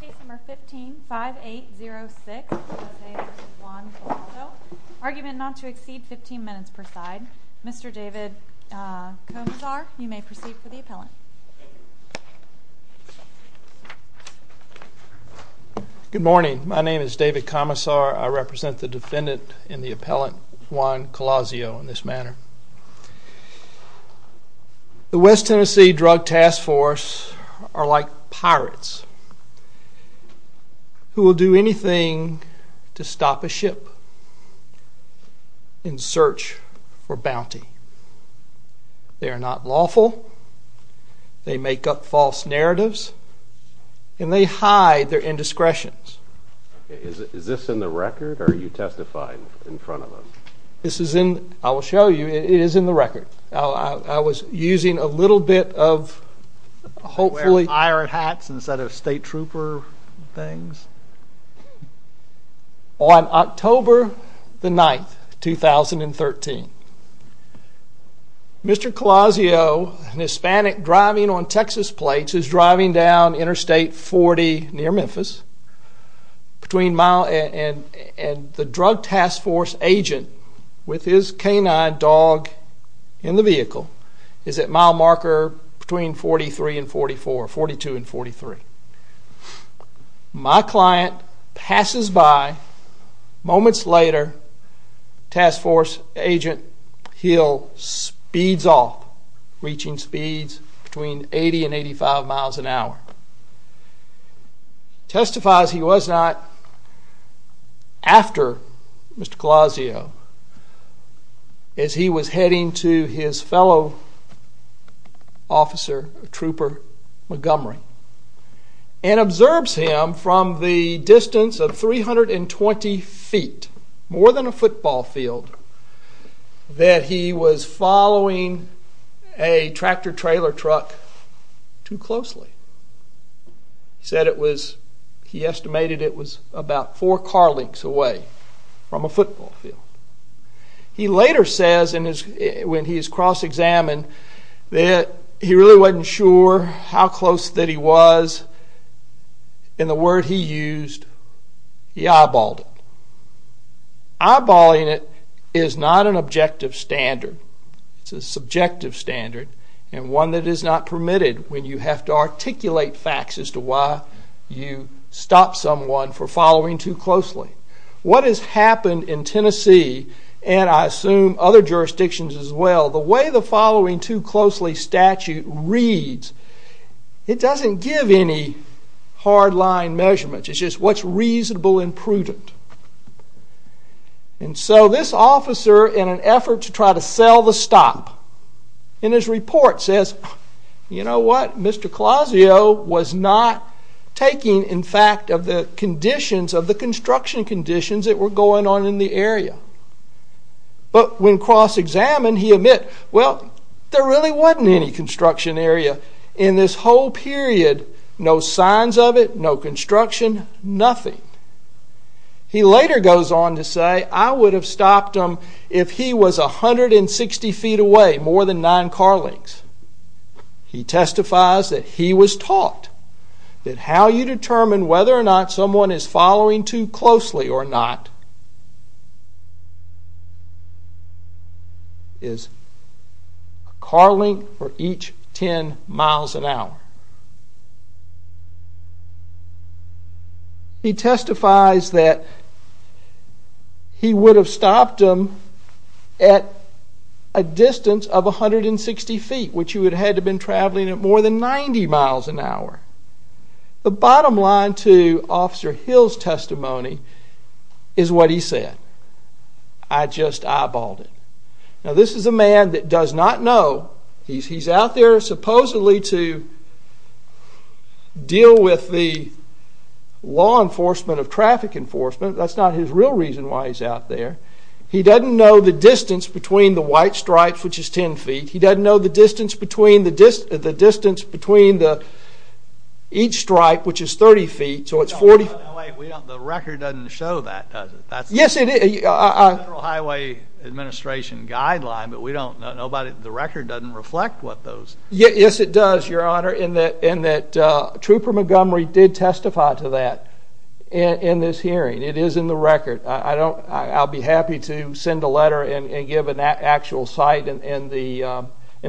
Case number 15-5806. Argument not to exceed 15 minutes per side. Mr. David Commissar, you may proceed for the appellant. Good morning. My name is David Commissar. I represent the defendant in the appellant, Juan Collazo, in this matter. The West Tennessee Drug Task Force are like pirates who will do anything to stop a ship in search for bounty. They are not lawful, they make up false narratives, and they hide their indiscretions. Is this in the record or are you testifying in front of us? This is in, I will show you, it is in the record. I was using a little bit of... Iron hats instead of state trooper things? On October 9, 2013, Mr. Collazo, an Hispanic driving on Texas plates, is driving down Interstate 40 near Memphis and the Drug Task Force agent, with his canine dog in the vehicle, is at mile marker between 42 and 43. My client passes by, moments later, Task Force Agent Hill speeds off, reaching speeds between 80 and 85 miles an hour. Testifies he was not after Mr. Collazo as he was heading to his fellow officer, Trooper Montgomery, and observes him from the distance of 320 feet, more than a football field, that he was following a tractor-trailer truck too closely. He said he estimated it was about four car lengths away from a football field. He later says, when he is cross-examined, that he really wasn't sure how close that he was, and the word he used, he eyeballed it. Eyeballing it is not an objective standard, it's a subjective standard, and one that is not permitted when you have to articulate facts as to why you stopped someone for following too closely. What has happened in Tennessee, and I assume other jurisdictions as well, the way the following too closely statute reads, it doesn't give any hard-line measurements. It's just what's reasonable and prudent. And so this officer, in an effort to try to sell the stop, in his report says, you know what, Mr. Collazo was not taking, in fact, of the construction conditions that were going on in the area. But when cross-examined, he admits, well, there really wasn't any construction area in this whole period. No signs of it, no construction, nothing. He later goes on to say, I would have stopped him if he was 160 feet away, more than nine car lengths. He testifies that he was taught that how you determine whether or not someone is following too closely or not is a car length for each 10 miles an hour. He testifies that he would have stopped him at a distance of 160 feet, which he would have had to have been traveling at more than 90 miles an hour. The bottom line to Officer Hill's testimony is what he said. I just eyeballed it. Now, this is a man that does not know. He's out there supposedly to deal with the law enforcement of traffic enforcement. That's not his real reason why he's out there. He doesn't know the distance between the white stripes, which is 10 feet. He doesn't know the distance between each stripe, which is 30 feet, so it's 40. That's the Federal Highway Administration guideline, but the record doesn't reflect those. Yes, it does, Your Honor, in that Trooper Montgomery did testify to that in this hearing. It is in the record. I'll be happy to send a letter and give an actual cite in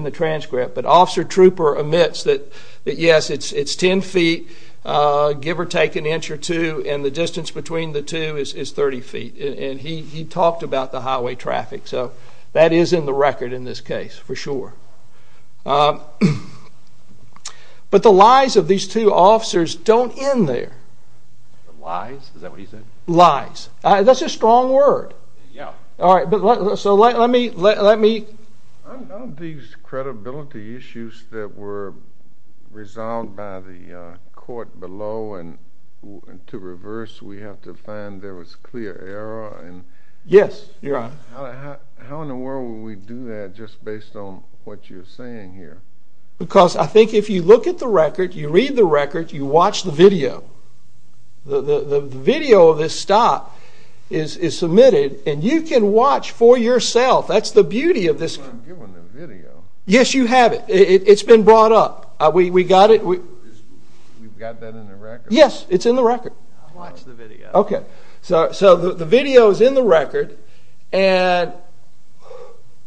the transcript. But Officer Trooper admits that, yes, it's 10 feet, give or take an inch or two, and the distance between the two is 30 feet. And he talked about the highway traffic, so that is in the record in this case for sure. But the lies of these two officers don't end there. Lies? Is that what he said? Lies. That's a strong word. All right. All right. So let me... On these credibility issues that were resolved by the court below and to reverse, we have to find there was clear error. Yes, Your Honor. How in the world would we do that just based on what you're saying here? Because I think if you look at the record, you read the record, you watch the video, the video of this stop is submitted, and you can watch for yourself. That's the beauty of this. But I'm given the video. Yes, you have it. It's been brought up. We got it. We've got that in the record? Yes, it's in the record. I'll watch the video. Okay. So the video is in the record. And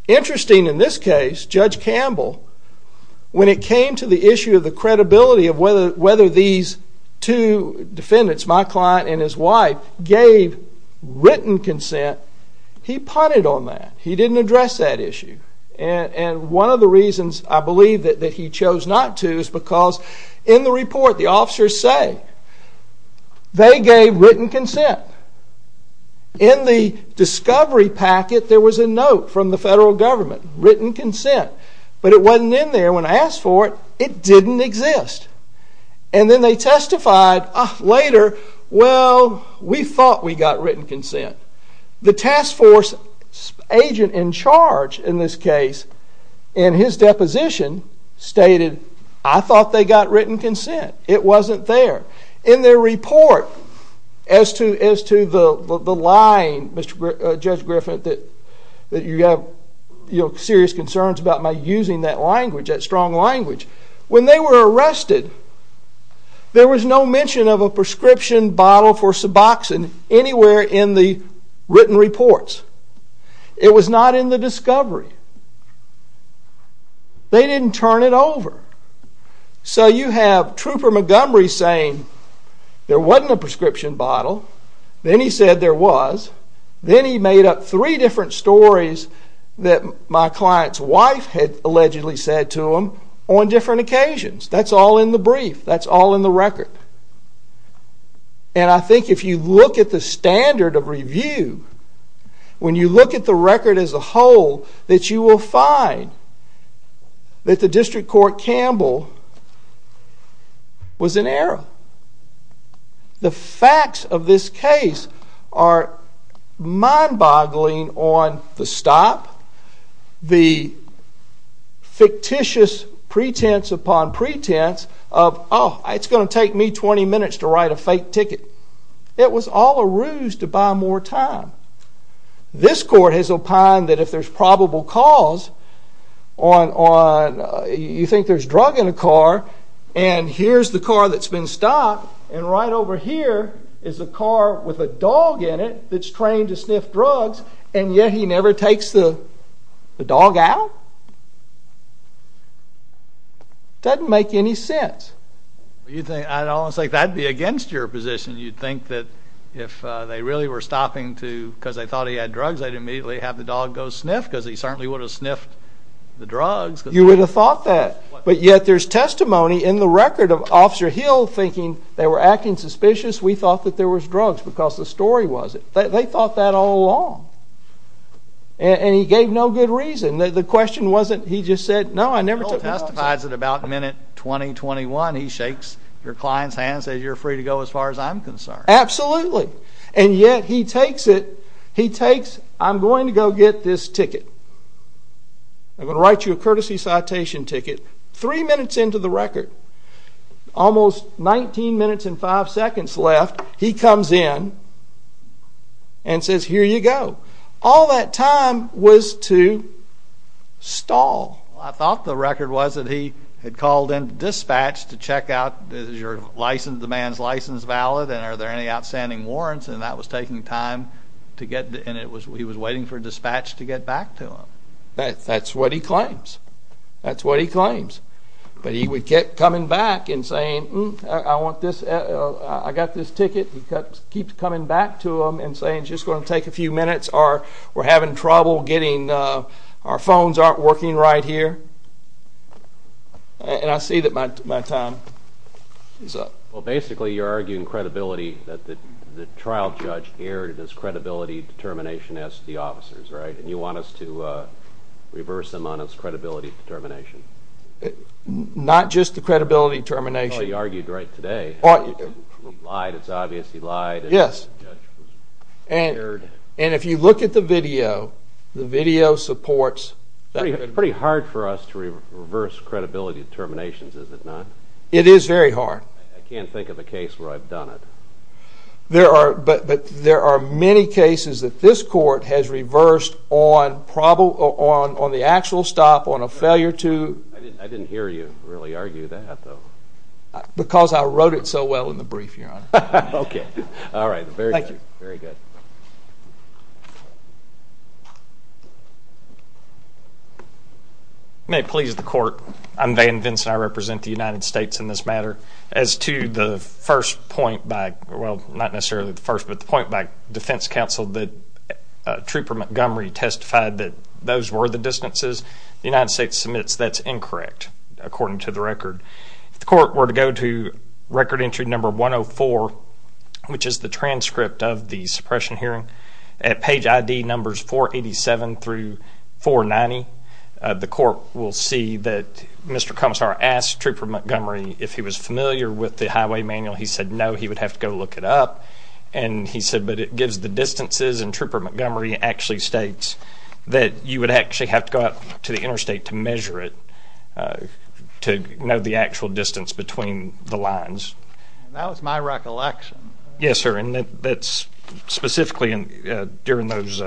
interesting in this case, Judge Campbell, when it came to the issue of the credibility of whether these two defendants, my client and his wife, gave written consent, he punted on that. He didn't address that issue. And one of the reasons I believe that he chose not to is because in the report, the officers say they gave written consent. In the discovery packet, there was a note from the federal government, written consent. But it wasn't in there when I asked for it. It didn't exist. And then they testified later, well, we thought we got written consent. The task force agent in charge in this case, in his deposition, stated I thought they got written consent. It wasn't there. In their report, as to the line, Judge Griffin, that you have serious concerns about my using that language, that strong language, when they were arrested, there was no mention of a prescription bottle for suboxone anywhere in the written reports. It was not in the discovery. They didn't turn it over. So you have Trooper Montgomery saying there wasn't a prescription bottle. Then he said there was. Then he made up three different stories that my client's wife had allegedly said to him on different occasions. That's all in the brief. That's all in the record. And I think if you look at the standard of review, when you look at the record as a whole, that you will find that the district court Campbell was in error. The facts of this case are mind-boggling on the stop, the fictitious pretense upon pretense of, oh, it's going to take me 20 minutes to write a fake ticket. It was all a ruse to buy more time. This court has opined that if there's probable cause on, you think there's drug in a car, and here's the car that's been stopped, and right over here is a car with a dog in it that's trained to sniff drugs, and yet he never takes the dog out? Doesn't make any sense. I'd almost say that'd be against your position. You'd think that if they really were stopping because they thought he had drugs, they'd immediately have the dog go sniff because he certainly would have sniffed the drugs. You would have thought that. But yet there's testimony in the record of Officer Hill thinking they were acting suspicious. We thought that there was drugs because the story was it. They thought that all along. And he gave no good reason. The question wasn't he just said, no, I never took the dog out. Hill testifies at about minute 20, 21. He shakes your client's hand and says, you're free to go as far as I'm concerned. Absolutely. And yet he takes it. He takes, I'm going to go get this ticket. I'm going to write you a courtesy citation ticket. Three minutes into the record, almost 19 minutes and five seconds left, he comes in and says, here you go. All that time was to stall. I thought the record was that he had called into dispatch to check out, is your license, the man's license valid, and are there any outstanding warrants, and that was taking time to get, and he was waiting for dispatch to get back to him. That's what he claims. That's what he claims. But he kept coming back and saying, I want this, I got this ticket. He kept coming back to him and saying, it's just going to take a few minutes. We're having trouble getting, our phones aren't working right here. And I see that my time is up. Well, basically you're arguing credibility, that the trial judge aired his credibility determination as to the officers, right? And you want us to reverse them on his credibility determination? Not just the credibility determination. Well, you argued right today. He lied, it's obvious he lied. Yes. And if you look at the video, the video supports that. It's pretty hard for us to reverse credibility determinations, is it not? It is very hard. I can't think of a case where I've done it. But there are many cases that this court has reversed on the actual stop, on a failure to... I didn't hear you really argue that, though. Because I wrote it so well in the brief, Your Honor. Okay. All right. Thank you. Very good. May it please the Court. I'm Van Vinson. I represent the United States in this matter. As to the first point by, well, not necessarily the first, but the point by defense counsel that Trooper Montgomery testified that those were the distances, the United States submits that's incorrect, according to the record. If the court were to go to record entry number 104, which is the transcript of the suppression hearing, at page ID numbers 487 through 490, the court will see that Mr. Commissar asked Trooper Montgomery if he was familiar with the highway manual. He said no, he would have to go look it up. And he said, but it gives the distances, and Trooper Montgomery actually states that you would actually have to go out to the interstate to measure it, to know the actual distance between the lines. That was my recollection. Yes, sir, and that's specifically during those,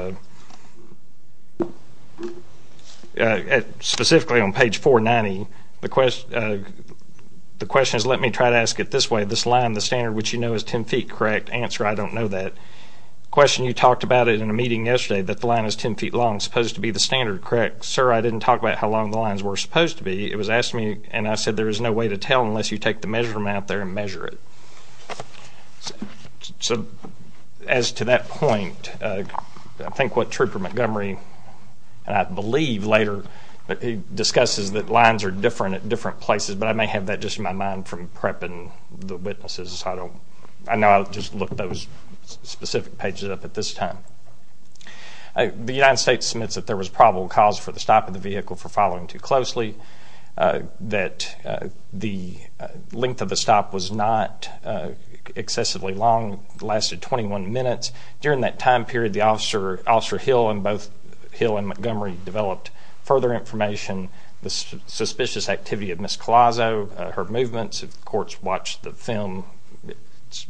specifically on page 490. The question is, let me try to ask it this way. This line, the standard, which you know is 10 feet, correct? Answer, I don't know that. Question, you talked about it in a meeting yesterday that the line is 10 feet long, supposed to be the standard, correct? Sir, I didn't talk about how long the lines were supposed to be. It was asked me, and I said there is no way to tell unless you take the measurement out there and measure it. So as to that point, I think what Trooper Montgomery, and I believe later, but he discusses that lines are different at different places, but I may have that just in my mind from prepping the witnesses. I know I'll just look those specific pages up at this time. The United States submits that there was probable cause for the stop of the vehicle for following too closely, that the length of the stop was not excessively long, lasted 21 minutes. During that time period, the Officer Hill and both Hill and Montgomery developed further information, the suspicious activity of Ms. Collazo, her movements. If the courts watch the film,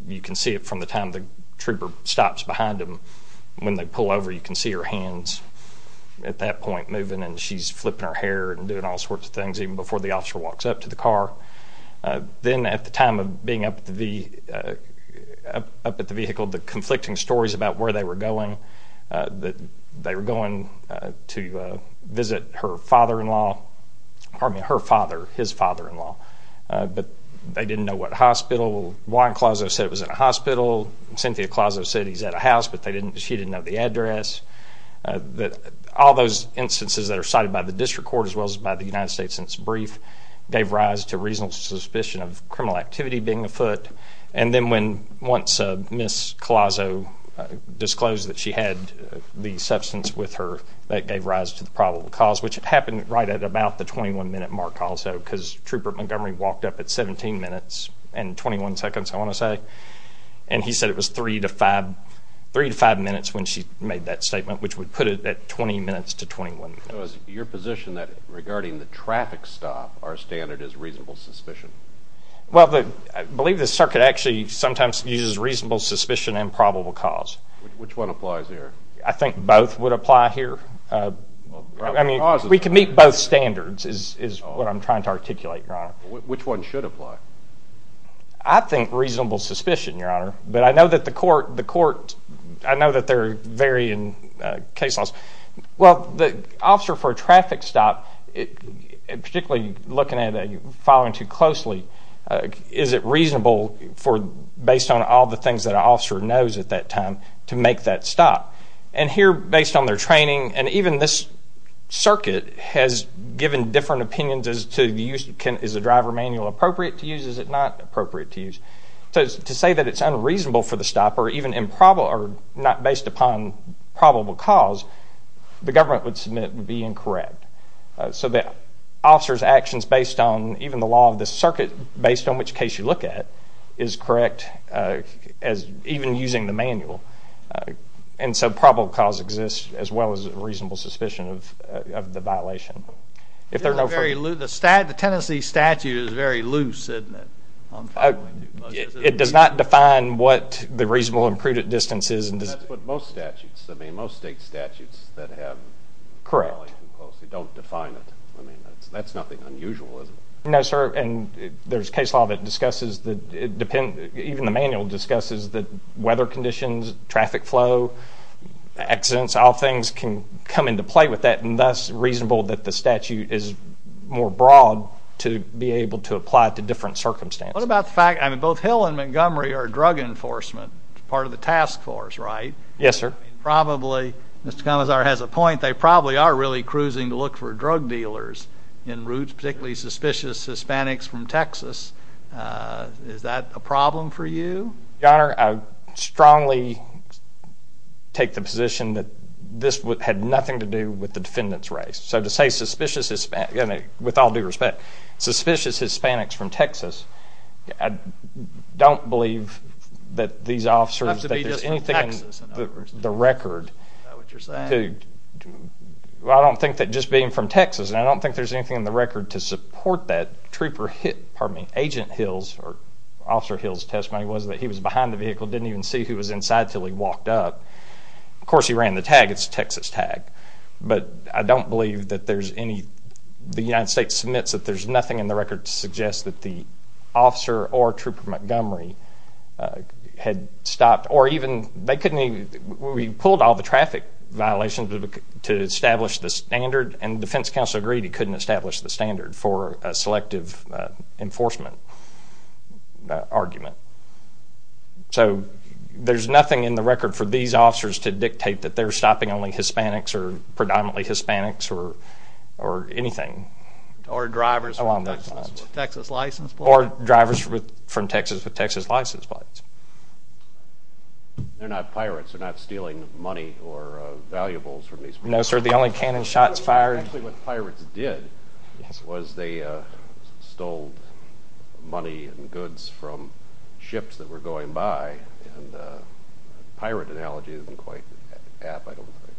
you can see it from the time the trooper stops behind them. When they pull over, you can see her hands at that point moving, and she's flipping her hair and doing all sorts of things even before the officer walks up to the car. Then at the time of being up at the vehicle, the conflicting stories about where they were going, that they were going to visit her father-in-law, pardon me, her father, his father-in-law. But they didn't know what hospital. Juan Collazo said it was in a hospital. Cynthia Collazo said he's at a house, but she didn't know the address. All those instances that are cited by the district court as well as by the United States since brief gave rise to reasonable suspicion of criminal activity being afoot. And then when once Ms. Collazo disclosed that she had the substance with her, that gave rise to the probable cause, which happened right at about the 21-minute mark also because Trooper Montgomery walked up at 17 minutes and 21 seconds, I want to say. And he said it was 3 to 5 minutes when she made that statement, which would put it at 20 minutes to 21 minutes. So is it your position that regarding the traffic stop, our standard is reasonable suspicion? Well, I believe the circuit actually sometimes uses reasonable suspicion and probable cause. Which one applies here? I think both would apply here. We can meet both standards is what I'm trying to articulate, Your Honor. Which one should apply? I think reasonable suspicion, Your Honor. But I know that the court, I know that they're varying case laws. Well, the officer for a traffic stop, particularly looking at it and following too closely, is it reasonable based on all the things that an officer knows at that time to make that stop? And here, based on their training, and even this circuit has given different opinions as to the use. Is the driver manual appropriate to use? Is it not appropriate to use? So to say that it's unreasonable for the stop or not based upon probable cause, the government would submit it would be incorrect. So the officer's actions based on even the law of the circuit, based on which case you look at, is correct as even using the manual. And so probable cause exists as well as reasonable suspicion of the violation. The Tennessee statute is very loose, isn't it? It does not define what the reasonable and prudent distance is. That's what most statutes, I mean, most state statutes that have knowledge and don't define it. I mean, that's nothing unusual, isn't it? No, sir, and there's case law that discusses that it depends, even the manual discusses that weather conditions, traffic flow, accidents, all things can come into play with that, and thus reasonable that the statute is more broad to be able to apply to different circumstances. What about the fact, I mean, both Hill and Montgomery are drug enforcement, part of the task force, right? Yes, sir. Probably, Mr. Commissar has a point, they probably are really cruising to look for drug dealers in particularly suspicious Hispanics from Texas. Is that a problem for you? Your Honor, I strongly take the position that this had nothing to do with the defendant's race. So to say suspicious, with all due respect, suspicious Hispanics from Texas, I don't believe that these officers, that there's anything in the record Is that what you're saying? Well, I don't think that just being from Texas, and I don't think there's anything in the record to support that Trooper hit, pardon me, Agent Hill's or Officer Hill's testimony was that he was behind the vehicle, didn't even see who was inside until he walked up. Of course, he ran the tag, it's a Texas tag, but I don't believe that there's any, the United States submits that there's nothing in the record to suggest that the officer or Trooper Montgomery had stopped, or even, they couldn't even, we pulled all the traffic violations to establish the standard, and the defense counsel agreed he couldn't establish the standard for a selective enforcement argument. So there's nothing in the record for these officers to dictate that they're stopping only Hispanics or predominantly Hispanics or anything along those lines. Or drivers with Texas license plates? They're not pirates, they're not stealing money or valuables from these people? No, sir, the only cannon shots fired... Actually, what the pirates did was they stole money and goods from ships that were going by, and the pirate analogy isn't quite apt, I don't think.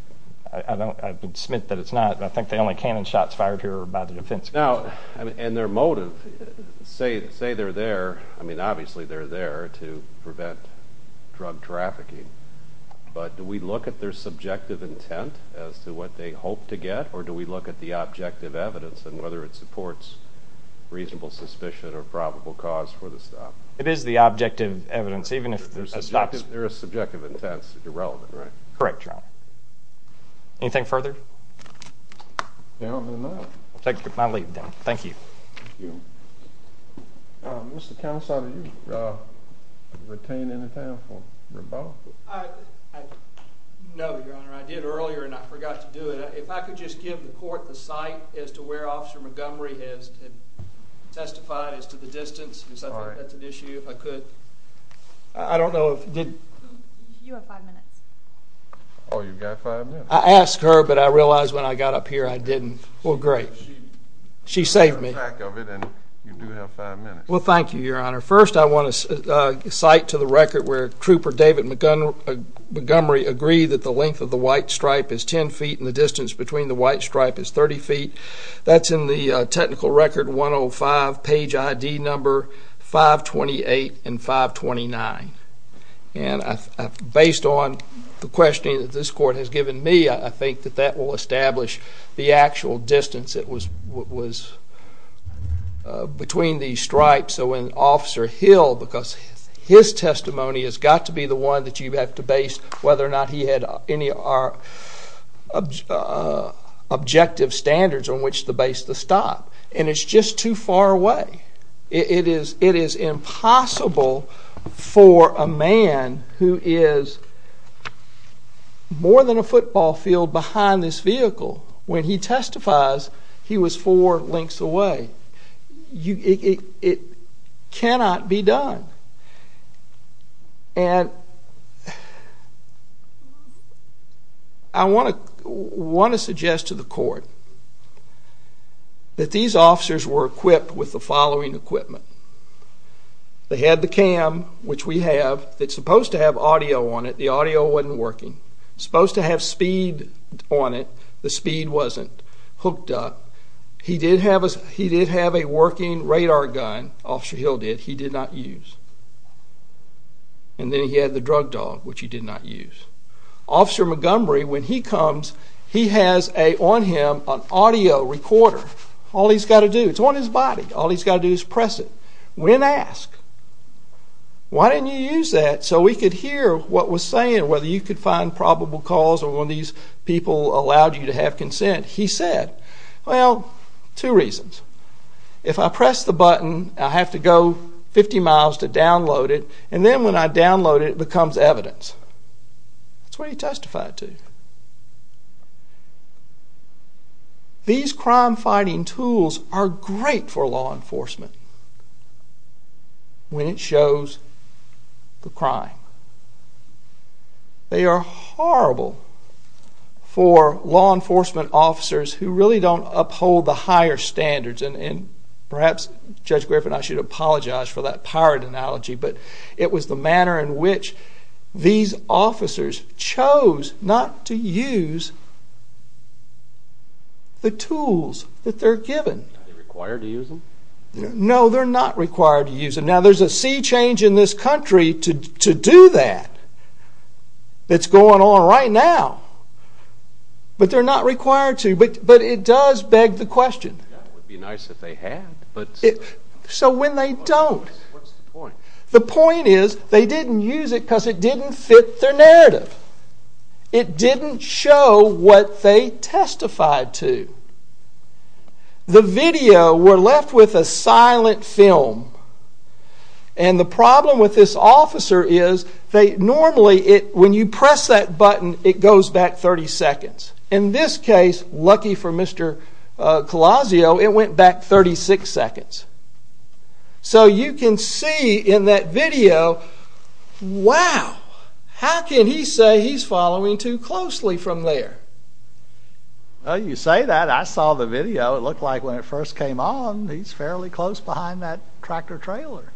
I don't, I would submit that it's not, but I think the only cannon shots fired here were by the defense counsel. Now, and their motive, say they're there, I mean, obviously they're there to prevent drug trafficking, but do we look at their subjective intent as to what they hope to get, or do we look at the objective evidence and whether it supports reasonable suspicion or probable cause for the stop? It is the objective evidence, even if the stop's... Their subjective intent's irrelevant, right? Correct, Your Honor. Anything further? No, not at all. I'll take my leave, then. Thank you. Thank you. Mr. Counsel, do you retain any time for rebuttal? No, Your Honor, I did earlier and I forgot to do it. If I could just give the court the sight as to where Officer Montgomery has testified, as to the distance, because I think that's an issue, if I could. I don't know if... You have five minutes. Oh, you've got five minutes. I asked her, but I realized when I got up here I didn't. Well, great. She saved me. You have five minutes. Well, thank you, Your Honor. First, I want to cite to the record where Trooper David Montgomery agreed that the length of the white stripe is 10 feet and the distance between the white stripe is 30 feet. That's in the technical record 105, page ID number 528 and 529. And based on the questioning that this court has given me, I think that that will establish the actual distance that was between these stripes. So when Officer Hill, because his testimony has got to be the one that you have to base whether or not he had any objective standards on which to base the stop. And it's just too far away. It is impossible for a man who is more than a football field behind this vehicle, when he testifies he was four lengths away. It cannot be done. And I want to suggest to the court that these officers were equipped with the following equipment. They had the cam, which we have. It's supposed to have audio on it. The audio wasn't working. It's supposed to have speed on it. The speed wasn't hooked up. He did have a working radar gun. Officer Hill did. Which he did not use. And then he had the drug dog, which he did not use. Officer Montgomery, when he comes, he has on him an audio recorder. All he's got to do, it's on his body, all he's got to do is press it. When asked, why didn't you use that so we could hear what was saying or whether you could find probable cause or when these people allowed you to have consent, he said, well, two reasons. If I press the button, I have to go 50 miles to download it, and then when I download it, it becomes evidence. That's what he testified to. These crime-fighting tools are great for law enforcement when it shows the crime. They are horrible for law enforcement officers who really don't uphold the higher standards. And perhaps Judge Griffin and I should apologize for that pirate analogy, but it was the manner in which these officers chose not to use the tools that they're given. Are they required to use them? No, they're not required to use them. Now, there's a sea change in this country to do that. It's going on right now. But they're not required to. But it does beg the question. So when they don't, the point is they didn't use it because it didn't fit their narrative. It didn't show what they testified to. The video, we're left with a silent film. And the problem with this officer is normally when you press that button, it goes back 30 seconds. In this case, lucky for Mr. Colosio, it went back 36 seconds. So you can see in that video, wow, how can he say he's following too closely from there? Well, you say that. I saw the video. It looked like when it first came on, he's fairly close behind that tractor-trailer.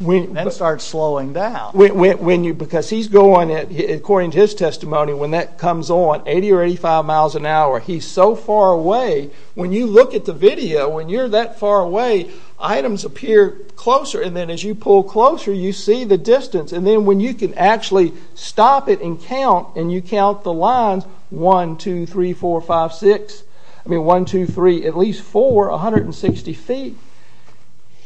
Then it starts slowing down. Because he's going, according to his testimony, when that comes on, 80 or 85 miles an hour, he's so far away. When you look at the video, when you're that far away, items appear closer. And then as you pull closer, you see the distance. And then when you can actually stop it and count, and you count the lines, 1, 2, 3, 4, 5, 6, I mean 1, 2, 3, at least 4, 160 feet,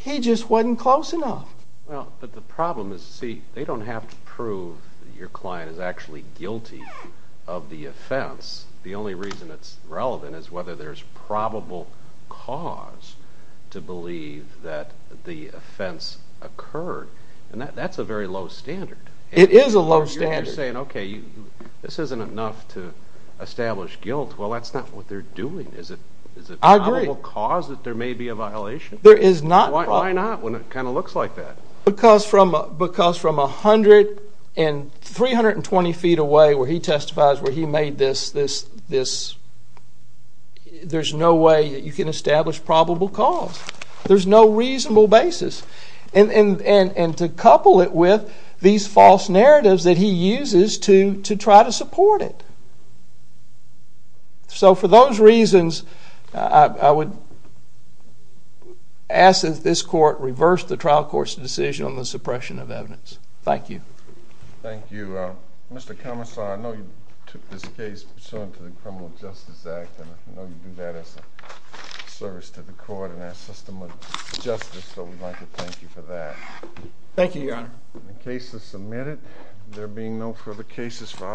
he just wasn't close enough. Well, but the problem is, see, they don't have to prove that your client is actually guilty of the offense. The only reason it's relevant is whether there's probable cause to believe that the offense occurred. And that's a very low standard. It is a low standard. You're saying, okay, this isn't enough to establish guilt. Well, that's not what they're doing. I agree. Is it probable cause that there may be a violation? There is not. Why not when it kind of looks like that? Because from 100 and 320 feet away, where he testifies, where he made this, there's no way that you can establish probable cause. There's no reasonable basis. And to couple it with these false narratives that he uses to try to support it. So for those reasons, I would ask that this court reverse the trial court's decision on the suppression of evidence. Thank you. Thank you. Mr. Commissar, I know you took this case pursuant to the Criminal Justice Act, and I know you do that as a service to the court and our system of justice, so we'd like to thank you for that. Thank you, Your Honor. The case is submitted. There being no further cases for our…